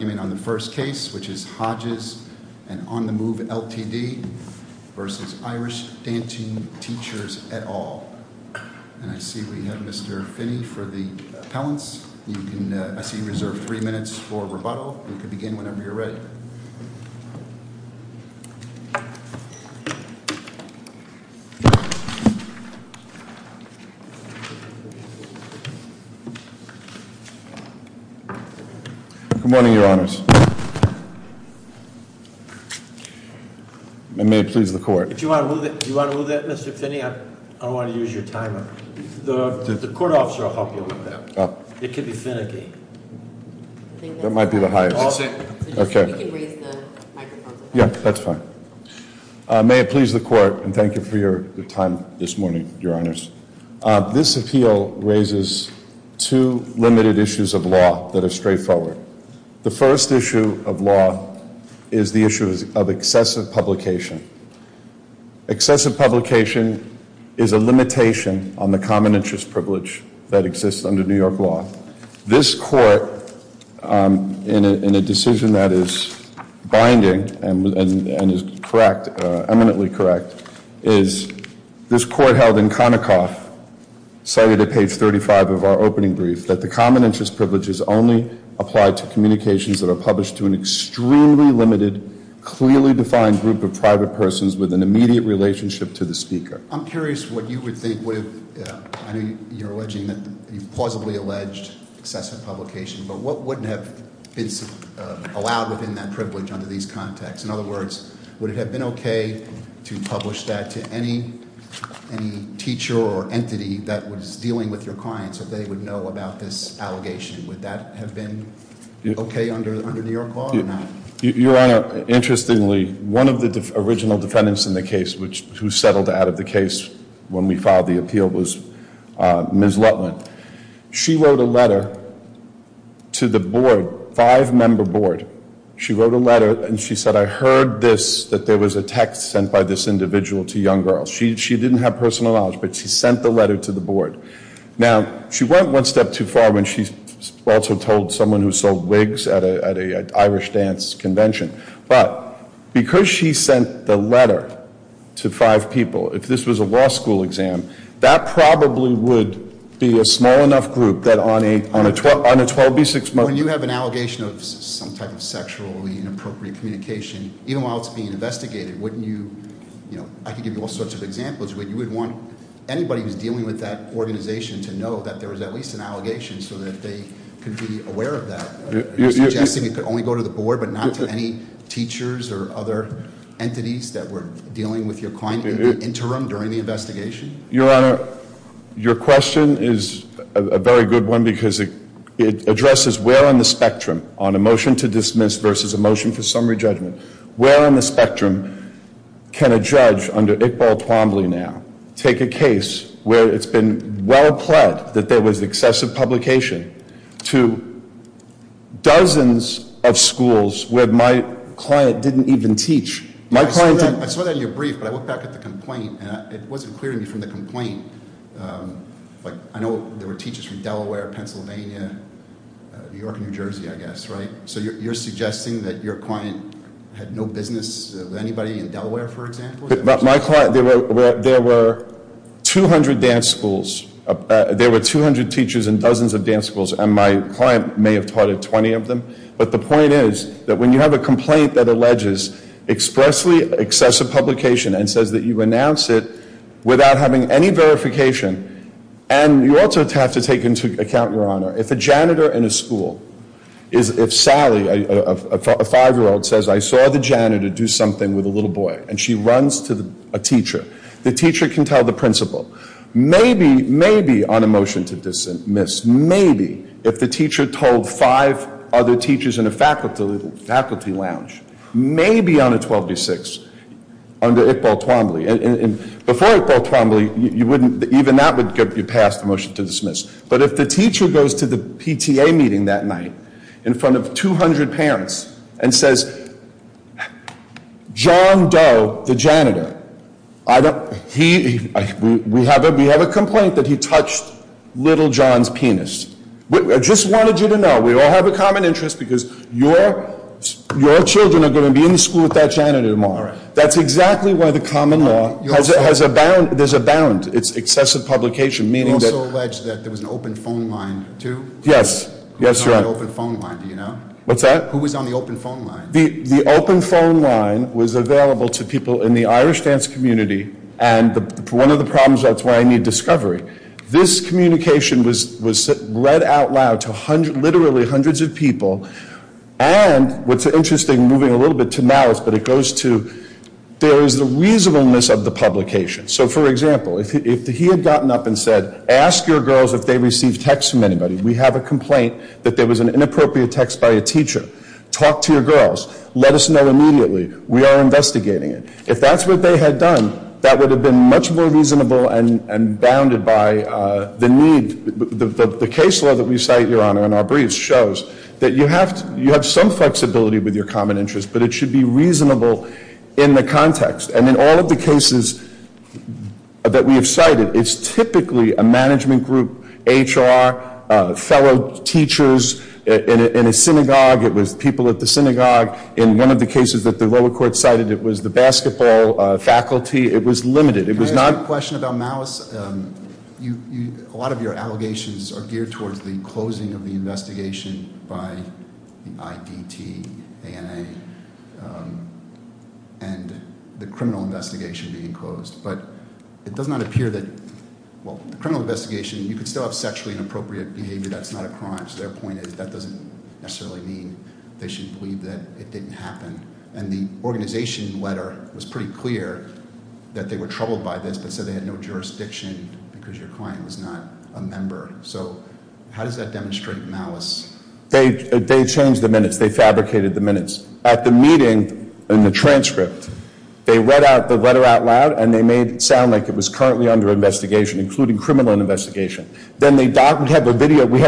on the first case, which is Hodges v. On the Move Ltd. v. Irish Dancing Teachers et al. And I see we have Mr. Finney for the appellants. I see you reserve three minutes for rebuttal. You can begin whenever you're ready. Good morning, Your Honors. And may it please the court. Do you want to move that, Mr. Finney? I don't want to use your timer. The court officer will help you with that. It could be Finnegan. That might be the highest. Yeah, that's fine. May it please the court, and thank you for your time this morning, Your Honors. This appeal raises two limited issues of law that are straightforward. The first issue of law is the issue of excessive publication. Excessive publication is a limitation on the common interest privilege that exists under New York law. This court, in a decision that is binding and is correct, eminently correct, is this court held in Konicoff, cited at page 35 of our opening brief, that the common interest privilege is only applied to communications that are published to an extremely limited, clearly defined group of private persons with an immediate relationship to the speaker. I'm curious what you would think, I know you're alleging that you've plausibly alleged excessive publication, but what wouldn't have been allowed within that privilege under these contexts? In other words, would it have been okay to publish that to any teacher or entity that was dealing with your clients if they would know about this allegation? Would that have been okay under New York law or not? Your Honor, interestingly, one of the original defendants in the case who settled out of the case when we filed the appeal was Ms. Lutland. She wrote a letter to the board, five-member board. She wrote a letter and she said, I heard this, that there was a text sent by this individual to young girls. She didn't have personal knowledge, but she sent the letter to the board. Now, she went one step too far when she also told someone who sold wigs at an Irish dance convention. But because she sent the letter to five people, if this was a law school exam, that probably would be a small enough group that on a 12B6- When you have an allegation of some type of sexually inappropriate communication, even while it's being investigated, wouldn't you, I could give you all sorts of examples, but you would want anybody who's dealing with that organization to know that there was at least an allegation so that they could be aware of that. You're suggesting it could only go to the board, but not to any teachers or other entities that were dealing with your client in the interim during the investigation? Your Honor, your question is a very good one because it addresses where on the spectrum, on a motion to dismiss versus a motion for summary judgment, where on the spectrum can a judge under Iqbal Twombly now take a case where it's been well pled that there was excessive publication to dozens of schools where my client didn't even teach? I saw that in your brief, but I looked back at the complaint, and it wasn't clear to me from the complaint. I know there were teachers from Delaware, Pennsylvania, New York, New Jersey, I guess, right? So you're suggesting that your client had no business with anybody in Delaware, for example? My client, there were 200 dance schools. There were 200 teachers in dozens of dance schools, and my client may have taught at 20 of them. But the point is that when you have a complaint that alleges expressly excessive publication and says that you renounce it without having any verification, and you also have to take into account, your Honor, if a janitor in a school, if Sally, a five-year-old, says I saw the janitor do something with a little boy, and she runs to a teacher, the teacher can tell the principal, maybe on a motion to dismiss, maybe if the teacher told five other teachers in a faculty lounge, maybe on a 12 to 6, under Iqbal Twombly, and before Iqbal Twombly, even that would be passed, a motion to dismiss. But if the teacher goes to the PTA meeting that night in front of 200 parents and says, John Doe, the janitor, we have a complaint that he touched little John's penis. I just wanted you to know, we all have a common interest because your children are going to be in the school with that janitor tomorrow. That's exactly why the common law has a bound. There's a bound. It's excessive publication, meaning that- You also allege that there was an open phone line, too? Yes. Yes, Your Honor. Who was on the open phone line, do you know? What's that? Who was on the open phone line? The open phone line was available to people in the Irish dance community, and one of the problems, that's why I need discovery. This communication was read out loud to literally hundreds of people, and what's interesting, moving a little bit to Malice, but it goes to, there is a reasonableness of the publication. So, for example, if he had gotten up and said, ask your girls if they received texts from anybody. We have a complaint that there was an inappropriate text by a teacher. Talk to your girls. Let us know immediately. We are investigating it. If that's what they had done, that would have been much more reasonable and bounded by the need. The case law that we cite, Your Honor, in our briefs shows that you have some flexibility with your common interest, but it should be reasonable in the context. And in all of the cases that we have cited, it's typically a management group, HR, fellow teachers in a synagogue. It was people at the synagogue. In one of the cases that the lower court cited, it was the basketball faculty. It was limited. I have a question about Malice. A lot of your allegations are geared towards the closing of the investigation by the IDT, ANA, and the criminal investigation being closed. But it does not appear that, well, the criminal investigation, you could still have sexually inappropriate behavior. That's not a crime. So their point is that doesn't necessarily mean they should believe that it didn't happen. And the organization letter was pretty clear that they were troubled by this, but said they had no jurisdiction because your client was not a member. So how does that demonstrate Malice? They changed the minutes. They fabricated the minutes. At the meeting, in the transcript, they read out the letter out loud, and they made it sound like it was currently under investigation, including criminal investigation. Then we have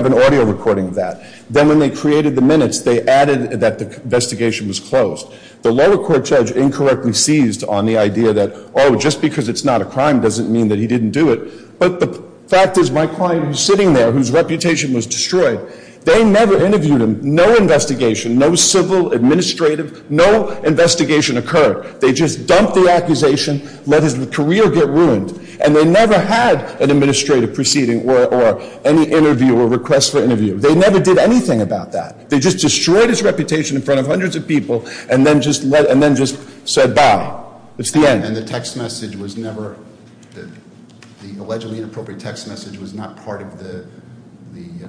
an audio recording of that. Then when they created the minutes, they added that the investigation was closed. The lower court judge incorrectly seized on the idea that, oh, just because it's not a crime doesn't mean that he didn't do it. But the fact is my client who's sitting there, whose reputation was destroyed, they never interviewed him. No investigation, no civil, administrative, no investigation occurred. They just dumped the accusation, let his career get ruined, and they never had an administrative proceeding or any interview or request for interview. They never did anything about that. They just destroyed his reputation in front of hundreds of people and then just said bye. That's the end. And the text message was never the allegedly inappropriate text message was not part of the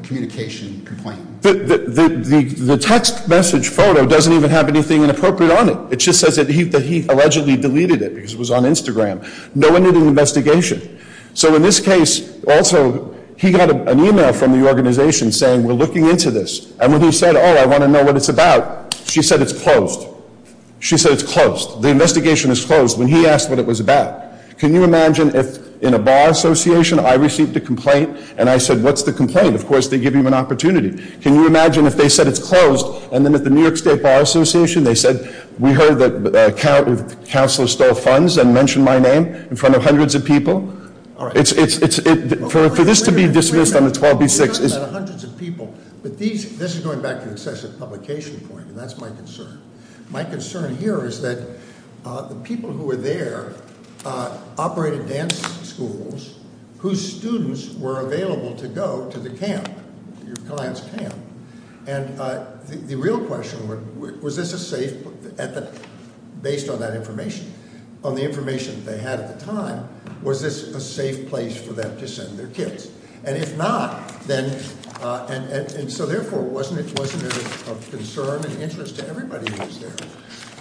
communication complaint? The text message photo doesn't even have anything inappropriate on it. It just says that he allegedly deleted it because it was on Instagram. No one did an investigation. So in this case, also, he got an e-mail from the organization saying we're looking into this. And when he said, oh, I want to know what it's about, she said it's closed. She said it's closed. The investigation is closed when he asked what it was about. Can you imagine if in a bar association I received a complaint and I said, what's the complaint? Of course, they give you an opportunity. Can you imagine if they said it's closed and then at the New York State Bar Association they said, we heard that the councilor stole funds and mentioned my name in front of hundreds of people? For this to be dismissed on the 12B6- We're talking about hundreds of people. But this is going back to the excessive publication point, and that's my concern. My concern here is that the people who were there operated dance schools whose students were available to go to the camp, your client's camp. And the real question was, was this a safe, based on that information, on the information that they had at the time, was this a safe place for them to send their kids? And if not, then, and so therefore, wasn't it of concern and interest to everybody who was there,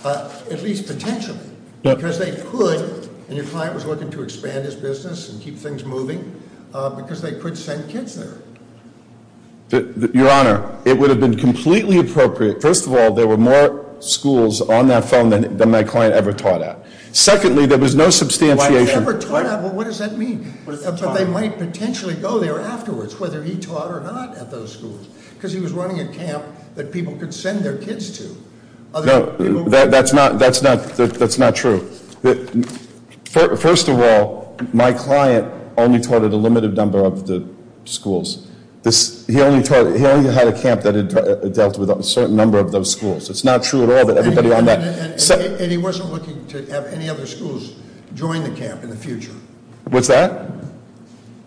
at least potentially? Because they could, and your client was looking to expand his business and keep things moving, because they could send kids there. Your Honor, it would have been completely appropriate. First of all, there were more schools on that phone than my client ever taught at. Secondly, there was no substantiation- Why was he ever taught at? What does that mean? But they might potentially go there afterwards, whether he taught or not at those schools, because he was running a camp that people could send their kids to. No, that's not true. First of all, my client only taught at a limited number of the schools. He only had a camp that dealt with a certain number of those schools. It's not true at all that everybody on that- And he wasn't looking to have any other schools join the camp in the future. What's that?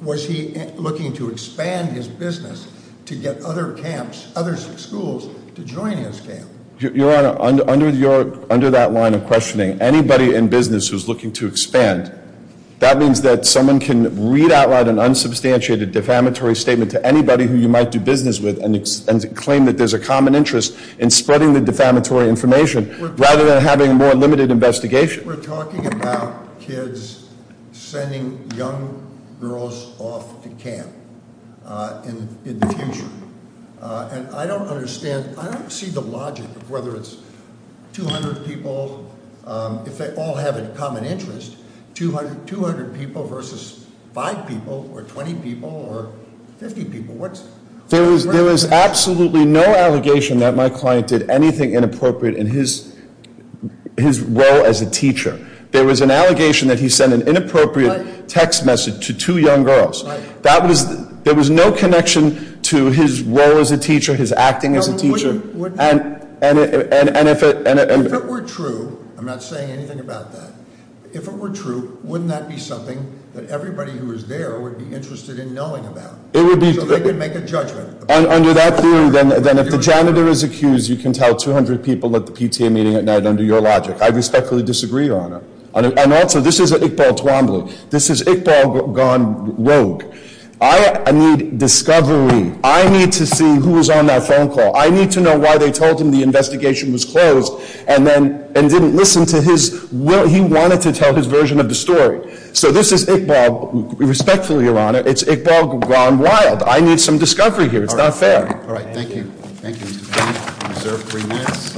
Was he looking to expand his business to get other camps, other schools, to join his camp? Your Honor, under that line of questioning, anybody in business who's looking to expand, that means that someone can read out loud an unsubstantiated defamatory statement to anybody who you might do business with and claim that there's a common interest in spreading the defamatory information rather than having a more limited investigation. We're talking about kids sending young girls off to camp in the future. And I don't understand, I don't see the logic of whether it's 200 people, if they all have a common interest, 200 people versus 5 people or 20 people or 50 people. What's- There was absolutely no allegation that my client did anything inappropriate in his role as a teacher. There was an allegation that he sent an inappropriate text message to two young girls. There was no connection to his role as a teacher, his acting as a teacher. And if it- If it were true, I'm not saying anything about that. If it were true, wouldn't that be something that everybody who was there would be interested in knowing about? It would be- So they could make a judgment. Under that theory, then if the janitor is accused, you can tell 200 people at the PTA meeting at night under your logic. I respectfully disagree, Your Honor. And also, this is Iqbal Twombly. This is Iqbal gone rogue. I need discovery. I need to see who was on that phone call. I need to know why they told him the investigation was closed and didn't listen to his- He wanted to tell his version of the story. So this is Iqbal. Respectfully, Your Honor, it's Iqbal gone wild. I need some discovery here. It's not fair. All right, thank you. Thank you. Reserved three minutes.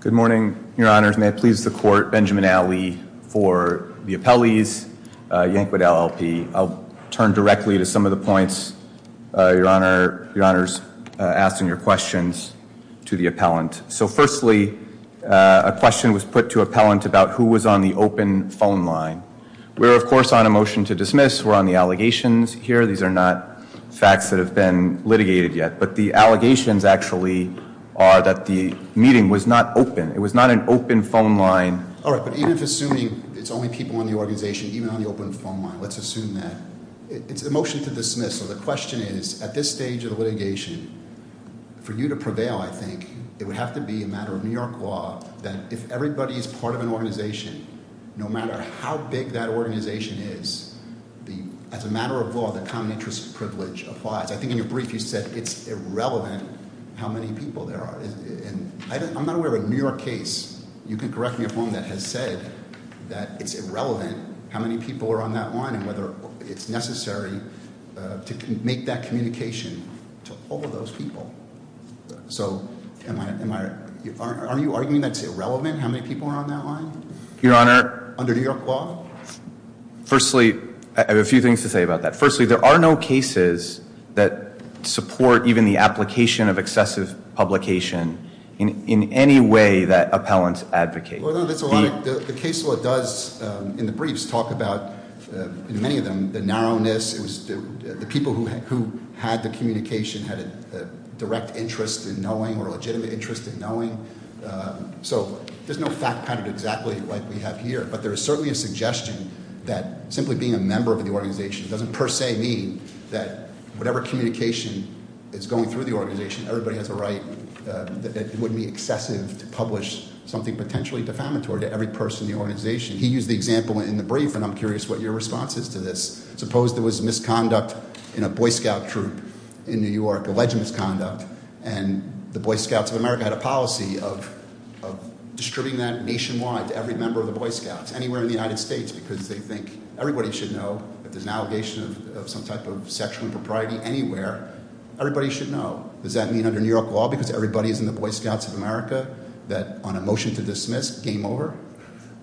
Good morning, Your Honors. May it please the court. Benjamin Alley for the appellees. Yankwood LLP. I'll turn directly to some of the points, Your Honors, asking your questions to the appellant. So firstly, a question was put to appellant about who was on the open phone line. We're, of course, on a motion to dismiss. We're on the allegations here. These are not facts that have been litigated yet. But the allegations actually are that the meeting was not open. It was not an open phone line. All right, but even if assuming it's only people in the organization, even on the open phone line, let's assume that. It's a motion to dismiss. So the question is, at this stage of the litigation, for you to prevail, I think, it would have to be a matter of New York law that if everybody is part of an organization, no matter how big that organization is, as a matter of law, the common interest privilege applies. I think in your brief you said it's irrelevant how many people there are. I'm not aware of a New York case, you can correct me if I'm wrong, that has said that it's irrelevant how many people are on that line and whether it's necessary to make that communication to all of those people. So are you arguing that it's irrelevant how many people are on that line? Your Honor. Under New York law? Firstly, I have a few things to say about that. Firstly, there are no cases that support even the application of excessive publication in any way that appellants advocate. The case law does, in the briefs, talk about, in many of them, the narrowness. It was the people who had the communication had a direct interest in knowing or a legitimate interest in knowing. So there's no fact pattern exactly like we have here. But there is certainly a suggestion that simply being a member of the organization doesn't per se mean that whatever communication is going through the organization, everybody has a right that it wouldn't be excessive to publish something potentially defamatory to every person in the organization. He used the example in the brief, and I'm curious what your response is to this. Suppose there was misconduct in a Boy Scout troop in New York, alleged misconduct, and the Boy Scouts of America had a policy of distributing that nationwide to every member of the Boy Scouts, anywhere in the United States, because they think everybody should know if there's an allegation of some type of sexual impropriety anywhere, everybody should know. Does that mean under New York law, because everybody is in the Boy Scouts of America, that on a motion to dismiss, game over?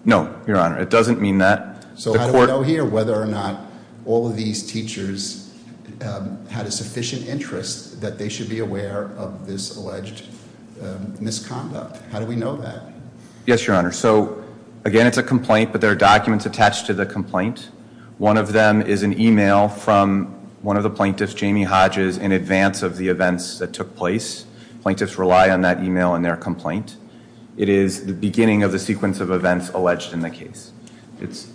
No, Your Honor, it doesn't mean that. So I don't know here whether or not all of these teachers had a sufficient interest that they should be aware of this alleged misconduct. How do we know that? Yes, Your Honor. So again, it's a complaint, but there are documents attached to the complaint. One of them is an email from one of the plaintiffs, Jamie Hodges, in advance of the events that took place. Plaintiffs rely on that email in their complaint. It is the beginning of the sequence of events alleged in the case. It's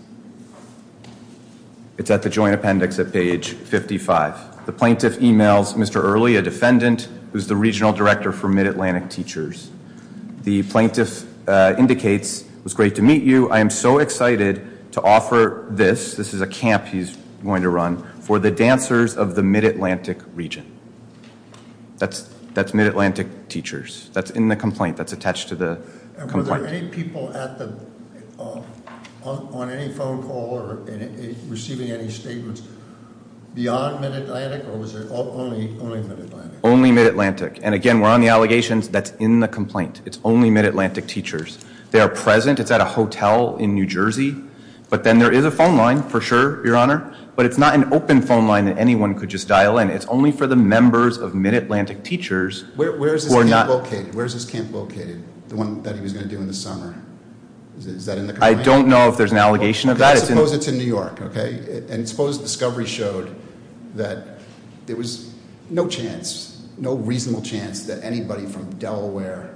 at the joint appendix at page 55. The plaintiff emails Mr. Early, a defendant, who's the regional director for Mid-Atlantic Teachers. The plaintiff indicates, it was great to meet you. I am so excited to offer this, this is a camp he's going to run, for the dancers of the Mid-Atlantic region. That's Mid-Atlantic Teachers. That's in the complaint. That's attached to the complaint. Were there any people on any phone call or receiving any statements beyond Mid-Atlantic, or was it only Mid-Atlantic? Only Mid-Atlantic. And again, we're on the allegations, that's in the complaint. It's only Mid-Atlantic Teachers. They are present, it's at a hotel in New Jersey. But then there is a phone line, for sure, Your Honor. But it's not an open phone line that anyone could just dial in. It's only for the members of Mid-Atlantic Teachers. Where is this camp located? The one that he was going to do in the summer. Is that in the complaint? I don't know if there's an allegation of that. Let's suppose it's in New York, okay? And suppose discovery showed that there was no chance, no reasonable chance that anybody from Delaware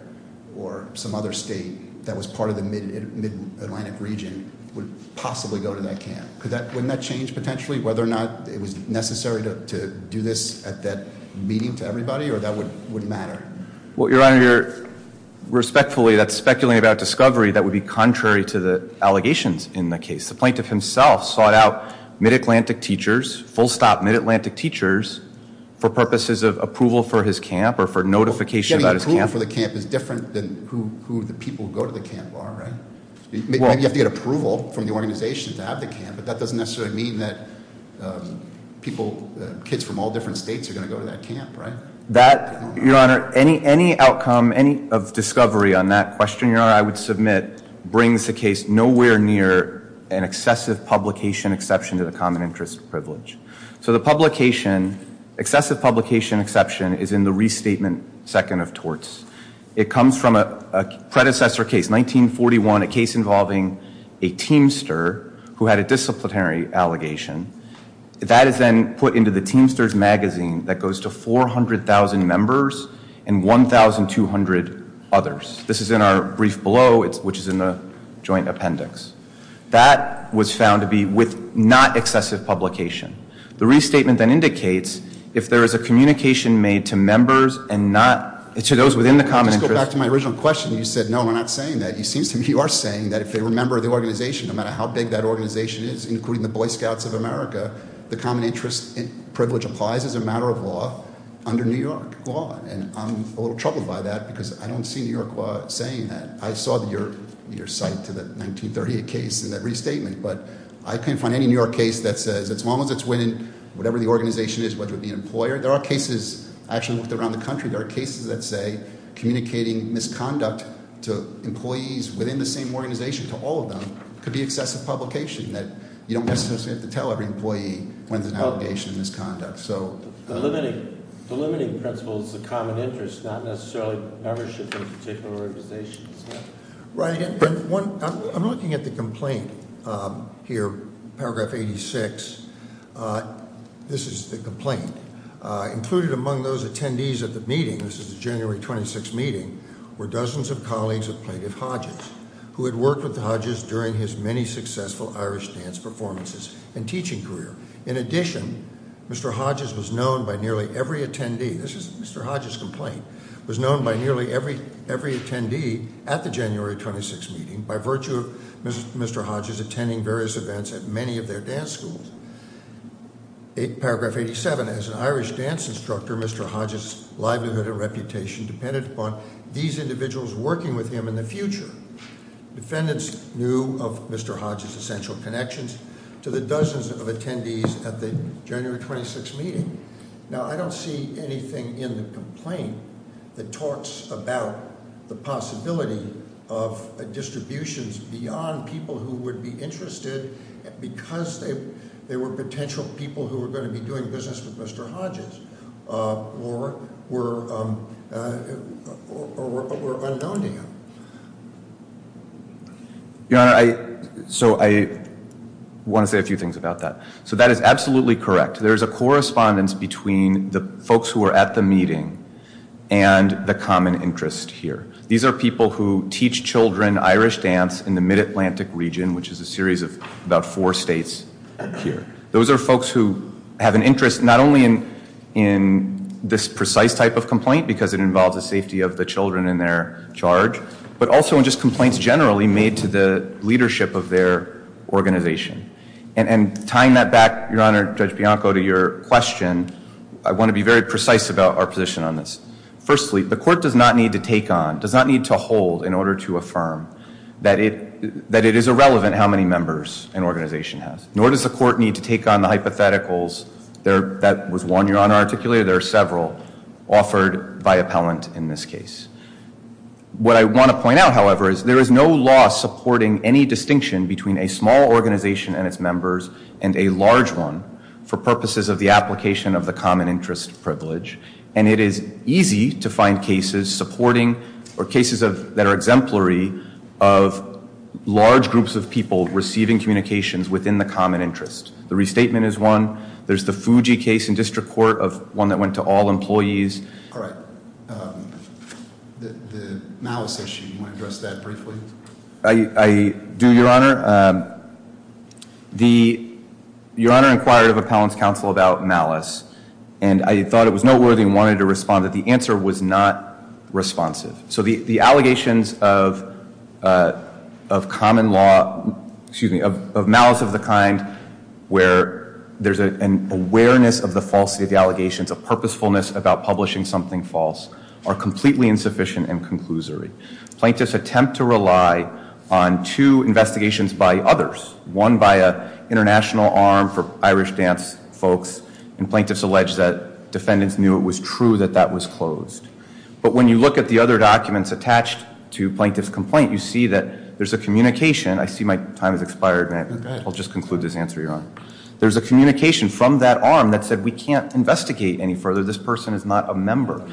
or some other state that was part of the Mid-Atlantic region would possibly go to that camp. Wouldn't that change, potentially, whether or not it was necessary to do this at that meeting to everybody, or that wouldn't matter? Well, Your Honor, respectfully, that's speculating about discovery. That would be contrary to the allegations in the case. The plaintiff himself sought out Mid-Atlantic Teachers, full stop Mid-Atlantic Teachers, for purposes of approval for his camp or for notification about his camp. Getting approval for the camp is different than who the people who go to the camp are, right? Maybe you have to get approval from the organization to have the camp, but that doesn't necessarily mean that kids from all different states are going to go to that camp, right? That, Your Honor, any outcome of discovery on that question, Your Honor, I would submit, brings the case nowhere near an excessive publication exception to the common interest privilege. So the publication, excessive publication exception, is in the restatement second of torts. It comes from a predecessor case, 1941, a case involving a teamster who had a disciplinary allegation. That is then put into the Teamsters Magazine that goes to 400,000 members and 1,200 others. This is in our brief below, which is in the joint appendix. That was found to be with not excessive publication. The restatement then indicates if there is a communication made to members and not, to those within the common interest. Let's go back to my original question. You said, no, we're not saying that. It seems to me you are saying that if they're a member of the organization, no matter how big that organization is, including the Boy Scouts of America, the common interest privilege applies as a matter of law under New York law. And I'm a little troubled by that because I don't see New York law saying that. I saw your cite to the 1938 case in that restatement. But I can't find any New York case that says, as long as it's within whatever the organization is, whether it be an employer. There are cases, I actually looked around the country, there are cases that say communicating misconduct to employees within the same organization, to all of them, could be excessive publication that you don't necessarily have to tell every employee when there's an allegation of misconduct. So- The limiting principle is the common interest, not necessarily membership in particular organizations. Right, and I'm looking at the complaint here, paragraph 86. This is the complaint. Included among those attendees at the meeting, this is the January 26th meeting, were dozens of colleagues of Plaintiff Hodges, who had worked with Hodges during his many successful Irish dance performances and teaching career. In addition, Mr. Hodges was known by nearly every attendee, this is Mr. Hodges' complaint, was known by nearly every attendee at the January 26th meeting, by virtue of Mr. Hodges attending various events at many of their dance schools. Paragraph 87, as an Irish dance instructor, Mr. Hodges' livelihood and reputation depended upon these individuals working with him in the future. Defendants knew of Mr. Hodges' essential connections to the dozens of attendees at the January 26th meeting. Now, I don't see anything in the complaint that talks about the possibility of distributions beyond people who would be interested because they were potential people who were going to be doing business with Mr. Hodges or were unknown to him. Your Honor, so I want to say a few things about that. So that is absolutely correct. There is a correspondence between the folks who were at the meeting and the common interest here. These are people who teach children Irish dance in the mid-Atlantic region, which is a series of about four states here. Those are folks who have an interest not only in this precise type of complaint because it involves the safety of the children in their charge, but also in just complaints generally made to the leadership of their organization. And tying that back, Your Honor, Judge Bianco, to your question, I want to be very precise about our position on this. Firstly, the court does not need to take on, does not need to hold in order to affirm that it is irrelevant how many members an organization has. Nor does the court need to take on the hypotheticals that was, Your Honor, articulated. There are several offered by appellant in this case. What I want to point out, however, is there is no law supporting any distinction between a small organization and its members and a large one for purposes of the application of the common interest privilege. And it is easy to find cases supporting or cases that are exemplary of large groups of people receiving communications within the common interest. The restatement is one. There's the Fuji case in district court of one that went to all employees. All right. The malice issue, you want to address that briefly? I do, Your Honor. Your Honor inquired of appellant's counsel about malice. And I thought it was noteworthy and wanted to respond that the answer was not responsive. So the allegations of common law, excuse me, of malice of the kind where there's an awareness of the falsity of the allegations, a purposefulness about publishing something false, are completely insufficient and conclusory. Plaintiffs attempt to rely on two investigations by others, one by an international arm for Irish dance folks, and plaintiffs allege that defendants knew it was true that that was closed. But when you look at the other documents attached to plaintiff's complaint, you see that there's a communication. I see my time has expired, and I'll just conclude this answer, Your Honor. There's a communication from that arm that said we can't investigate any further. This person is not a member.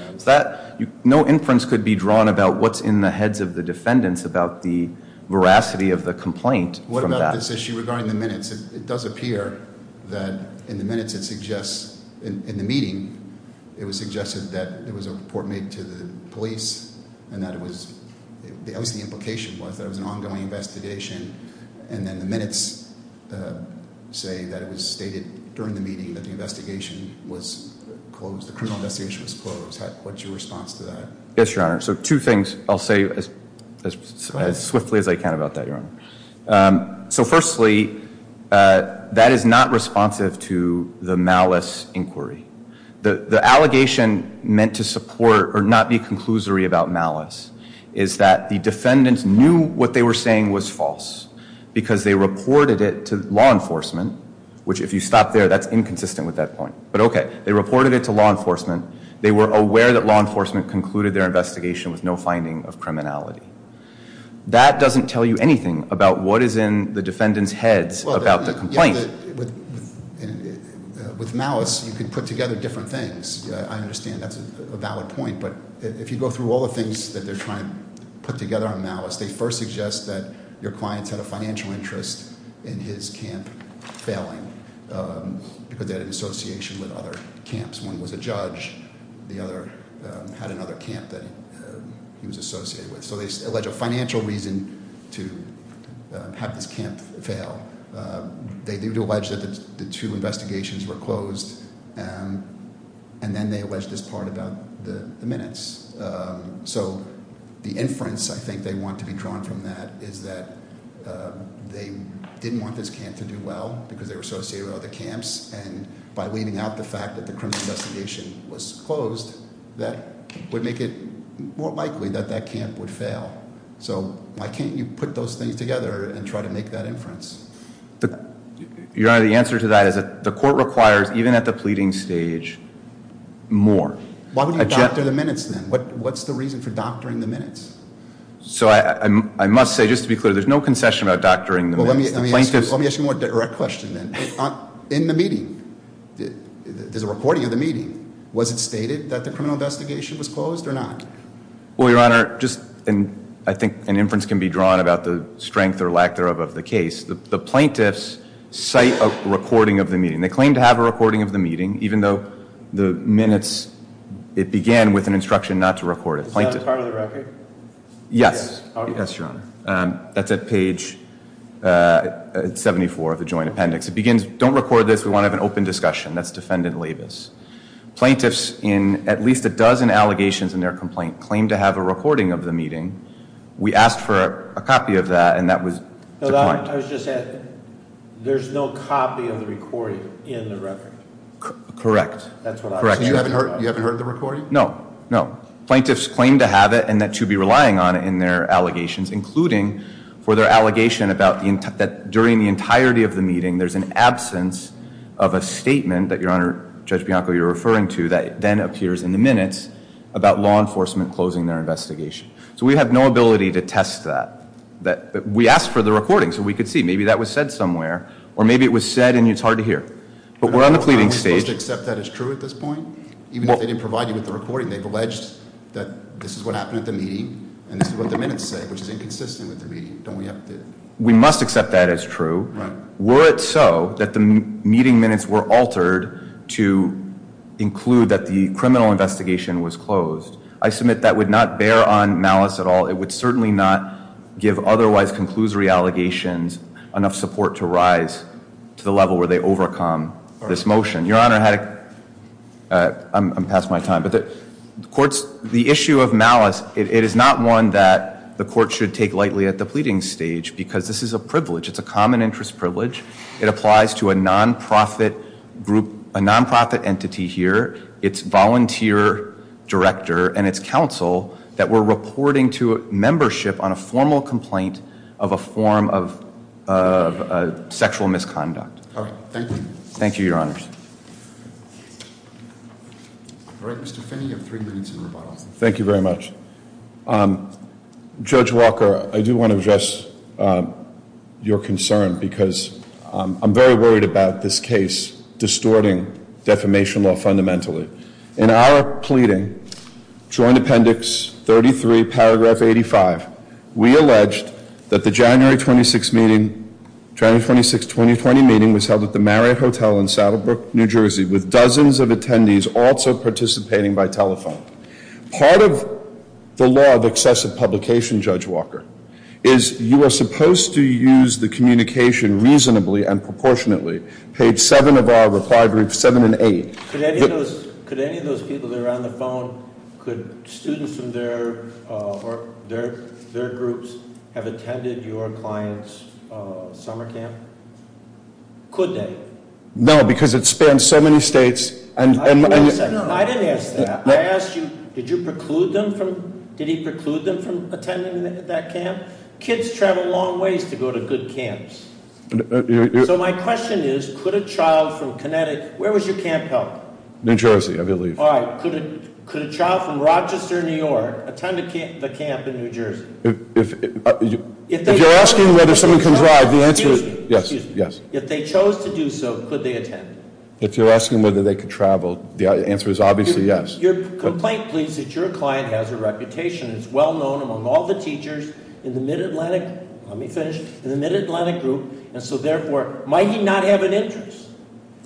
No inference could be drawn about what's in the heads of the defendants about the veracity of the complaint from that. What about this issue regarding the minutes? It does appear that in the minutes it suggests, in the meeting, it was suggested that there was a report made to the police, and that it was, obviously the implication was that it was an ongoing investigation. And then the minutes say that it was stated during the meeting that the investigation was closed, the criminal investigation was closed. What's your response to that? Yes, Your Honor. So two things. I'll say as swiftly as I can about that, Your Honor. So firstly, that is not responsive to the malice inquiry. The allegation meant to support or not be conclusory about malice is that the defendants knew what they were saying was false because they reported it to law enforcement, which if you stop there, that's inconsistent with that point. But okay, they reported it to law enforcement. They were aware that law enforcement concluded their investigation with no finding of criminality. That doesn't tell you anything about what is in the defendants' heads about the complaint. With malice, you can put together different things. I understand that's a valid point, but if you go through all the things that they're trying to put together on malice, they first suggest that your clients had a financial interest in his camp failing because they had an association with other camps. One was a judge. The other had another camp that he was associated with. So they allege a financial reason to have this camp fail. They do allege that the two investigations were closed, and then they allege this part about the minutes. So the inference I think they want to be drawn from that is that they didn't want this camp to do well because they were associated with other camps. And by leaving out the fact that the criminal investigation was closed, that would make it more likely that that camp would fail. So why can't you put those things together and try to make that inference? Your Honor, the answer to that is the court requires, even at the pleading stage, more. Why would you doctor the minutes, then? What's the reason for doctoring the minutes? So I must say, just to be clear, there's no concession about doctoring the minutes. Let me ask you a more direct question, then. In the meeting, there's a recording of the meeting. Was it stated that the criminal investigation was closed or not? Well, Your Honor, I think an inference can be drawn about the strength or lack thereof of the case. The plaintiffs cite a recording of the meeting. They claim to have a recording of the meeting, even though the minutes, it began with an instruction not to record it. Is that a part of the record? Yes. Yes, Your Honor. That's at page 74 of the joint appendix. It begins, don't record this. We want to have an open discussion. That's defendant Labus. Plaintiffs, in at least a dozen allegations in their complaint, claim to have a recording of the meeting. We asked for a copy of that, and that was declined. I was just asking, there's no copy of the recording in the record? Correct. That's what I was asking. You haven't heard the recording? No. No. Plaintiffs claim to have it and that you'd be relying on it in their allegations, including for their allegation that during the entirety of the meeting, there's an absence of a statement that, Your Honor, Judge Bianco, you're referring to, that then appears in the minutes about law enforcement closing their investigation. So we have no ability to test that. We asked for the recording so we could see. Maybe that was said somewhere, or maybe it was said and it's hard to hear. But we're on the pleading stage. Are we supposed to accept that as true at this point? Even if they didn't provide you with the recording, they've alleged that this is what happened at the meeting and this is what the minutes say, which is inconsistent with the meeting. Don't we have to? We must accept that as true. Were it so that the meeting minutes were altered to include that the criminal investigation was closed, I submit that would not bear on malice at all. It would certainly not give otherwise conclusory allegations enough support to rise to the level where they overcome this motion. Your Honor, I'm past my time, but the issue of malice, it is not one that the court should take lightly at the pleading stage because this is a privilege. It's a common interest privilege. It applies to a nonprofit group, a nonprofit entity here, its volunteer director and its counsel that were reporting to membership on a formal complaint of a form of sexual misconduct. All right. Thank you. Thank you, Your Honors. Mr. Finney, you have three minutes in rebuttal. Thank you very much. Judge Walker, I do want to address your concern because I'm very worried about this case distorting defamation law fundamentally. In our pleading, Joint Appendix 33, Paragraph 85, we alleged that the January 26th 2020 meeting was held at the Marriott Hotel in Saddlebrook, New Jersey, with dozens of attendees also participating by telephone. Part of the law of excessive publication, Judge Walker, is you are supposed to use the communication reasonably and proportionately. Page 7 of our reply group, 7 and 8- Could any of those people that are on the phone, could students from their groups have attended your client's summer camp? Could they? No, because it spans so many states and- I didn't ask that. I asked you, did you preclude them from, did he preclude them from attending that camp? Kids travel long ways to go to good camps. So my question is, could a child from Connecticut, where was your camp held? New Jersey, I believe. All right, could a child from Rochester, New York, attend the camp in New Jersey? If you're asking whether someone can drive, the answer is yes. If they chose to do so, could they attend? If you're asking whether they could travel, the answer is obviously yes. Your complaint pleads that your client has a reputation, is well known among all the teachers in the Mid-Atlantic, let me finish, in the Mid-Atlantic group, and so therefore, might he not have an interest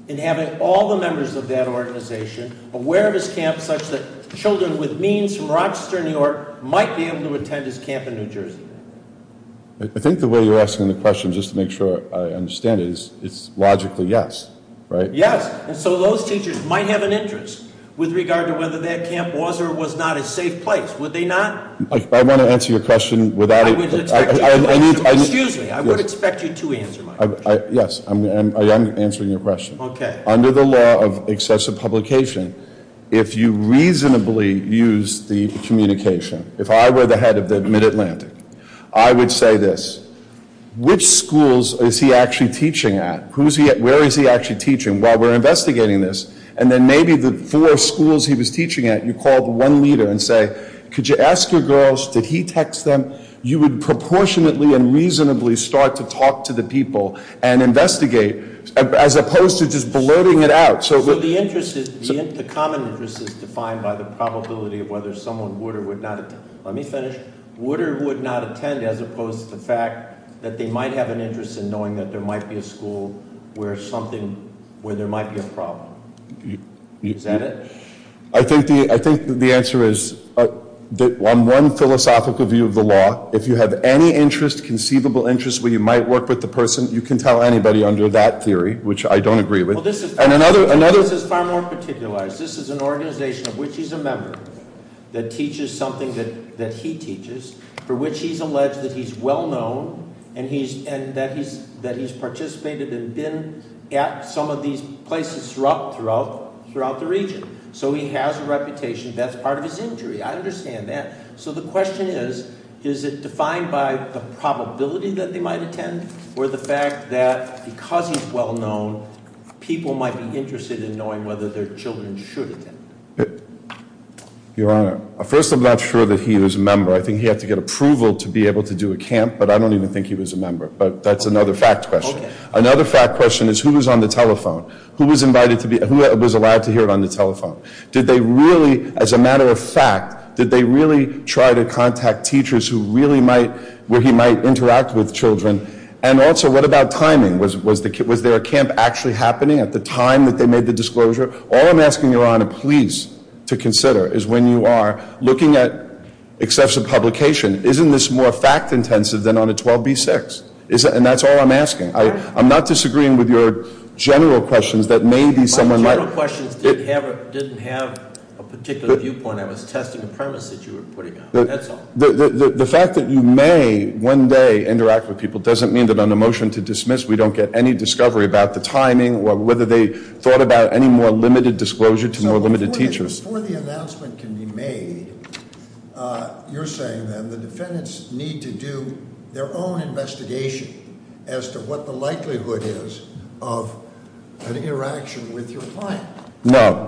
in having all the members of that organization aware of his camp, such that children with means from Rochester, New York, might be able to attend his camp in New Jersey? I think the way you're asking the question, just to make sure I understand it, is it's logically yes, right? Yes, and so those teachers might have an interest with regard to whether that camp was or was not a safe place. Would they not? I want to answer your question without- Excuse me, I would expect you to answer my question. Yes, I'm answering your question. Okay. Under the law of excessive publication, if you reasonably use the communication, if I were the head of the Mid-Atlantic, I would say this. Which schools is he actually teaching at? Where is he actually teaching while we're investigating this? And then maybe the four schools he was teaching at, you called one leader and say, could you ask your girls, did he text them? You would proportionately and reasonably start to talk to the people and investigate, as opposed to just blurting it out. So the common interest is defined by the probability of whether someone would or would not attend. Let me finish. Would or would not attend, as opposed to the fact that they might have an interest in knowing that there might be a school where there might be a problem. Is that it? I think the answer is, on one philosophical view of the law, if you have any interest, conceivable interest, where you might work with the person, you can tell anybody under that theory, which I don't agree with. And another- This is far more particular. This is an organization of which he's a member, that teaches something that he teaches, for which he's alleged that he's well known and that he's participated and been at some of these places throughout the region. So he has a reputation, that's part of his injury, I understand that. So the question is, is it defined by the probability that they might attend, or the fact that because he's well known, people might be interested in knowing whether their children should attend? Your Honor, first I'm not sure that he was a member. I think he had to get approval to be able to do a camp, but I don't even think he was a member. But that's another fact question. Another fact question is, who was on the telephone? Who was invited to be, who was allowed to hear it on the telephone? Did they really, as a matter of fact, did they really try to contact teachers who really might, where he might interact with children? And also, what about timing? Was there a camp actually happening at the time that they made the disclosure? All I'm asking, Your Honor, please, to consider is when you are looking at excessive publication, isn't this more fact intensive than on a 12B6, and that's all I'm asking. I'm not disagreeing with your general questions that maybe someone might- My general questions didn't have a particular viewpoint. I was testing the premise that you were putting out, that's all. The fact that you may, one day, interact with people doesn't mean that on a motion to dismiss, we don't get any discovery about the timing, or whether they thought about any more limited disclosure to more limited teachers. Before the announcement can be made, you're saying then, the defendants need to do their own investigation as to what the likelihood is of an interaction with your client. No,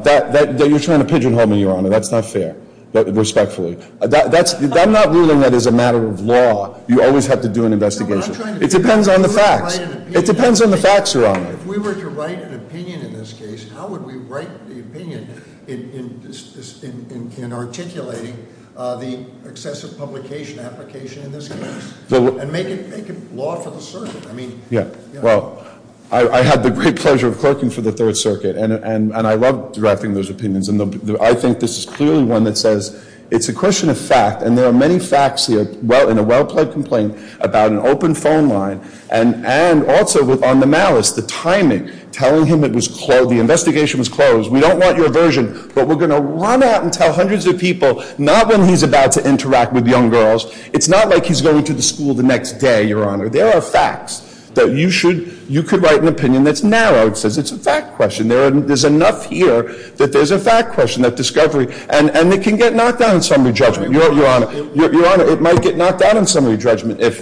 you're trying to pigeonhole me, Your Honor. That's not fair, respectfully. I'm not ruling that as a matter of law, you always have to do an investigation. It depends on the facts. It depends on the facts, Your Honor. If we were to write an opinion in this case, how would we write the opinion in articulating the excessive publication application in this case? And make it law for the circuit. Yeah, well, I had the great pleasure of clerking for the Third Circuit, and I love directing those opinions. And I think this is clearly one that says, it's a question of fact. And there are many facts in a well-played complaint about an open phone line. And also on the malice, the timing, telling him the investigation was closed. We don't want your version, but we're going to run out and tell hundreds of people, not when he's about to interact with young girls. It's not like he's going to the school the next day, Your Honor. There are facts that you could write an opinion that's narrowed, says it's a fact question. There's enough here that there's a fact question, that discovery, and it can get knocked down in summary judgment, Your Honor. Your Honor, it might get knocked down in summary judgment if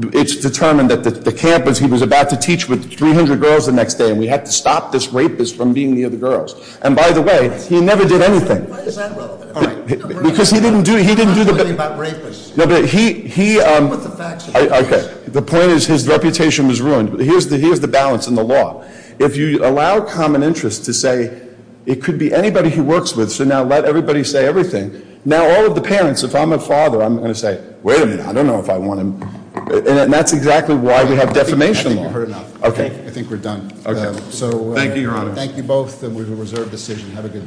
it's determined that the campus, because he was about to teach with 300 girls the next day, and we had to stop this rapist from being near the girls. And by the way, he never did anything. Why is that relevant? All right. Because he didn't do the- We're not talking about rapists. No, but he- What the facts are. Okay. The point is, his reputation was ruined. Here's the balance in the law. If you allow common interest to say, it could be anybody he works with, so now let everybody say everything. Now all of the parents, if I'm a father, I'm going to say, wait a minute, I don't know if I want him. And that's exactly why we have defamation law. I think we've heard enough. Okay. I think we're done. Okay. So- Thank you, Your Honor. Thank you both, and we have a reserved decision. Have a good day.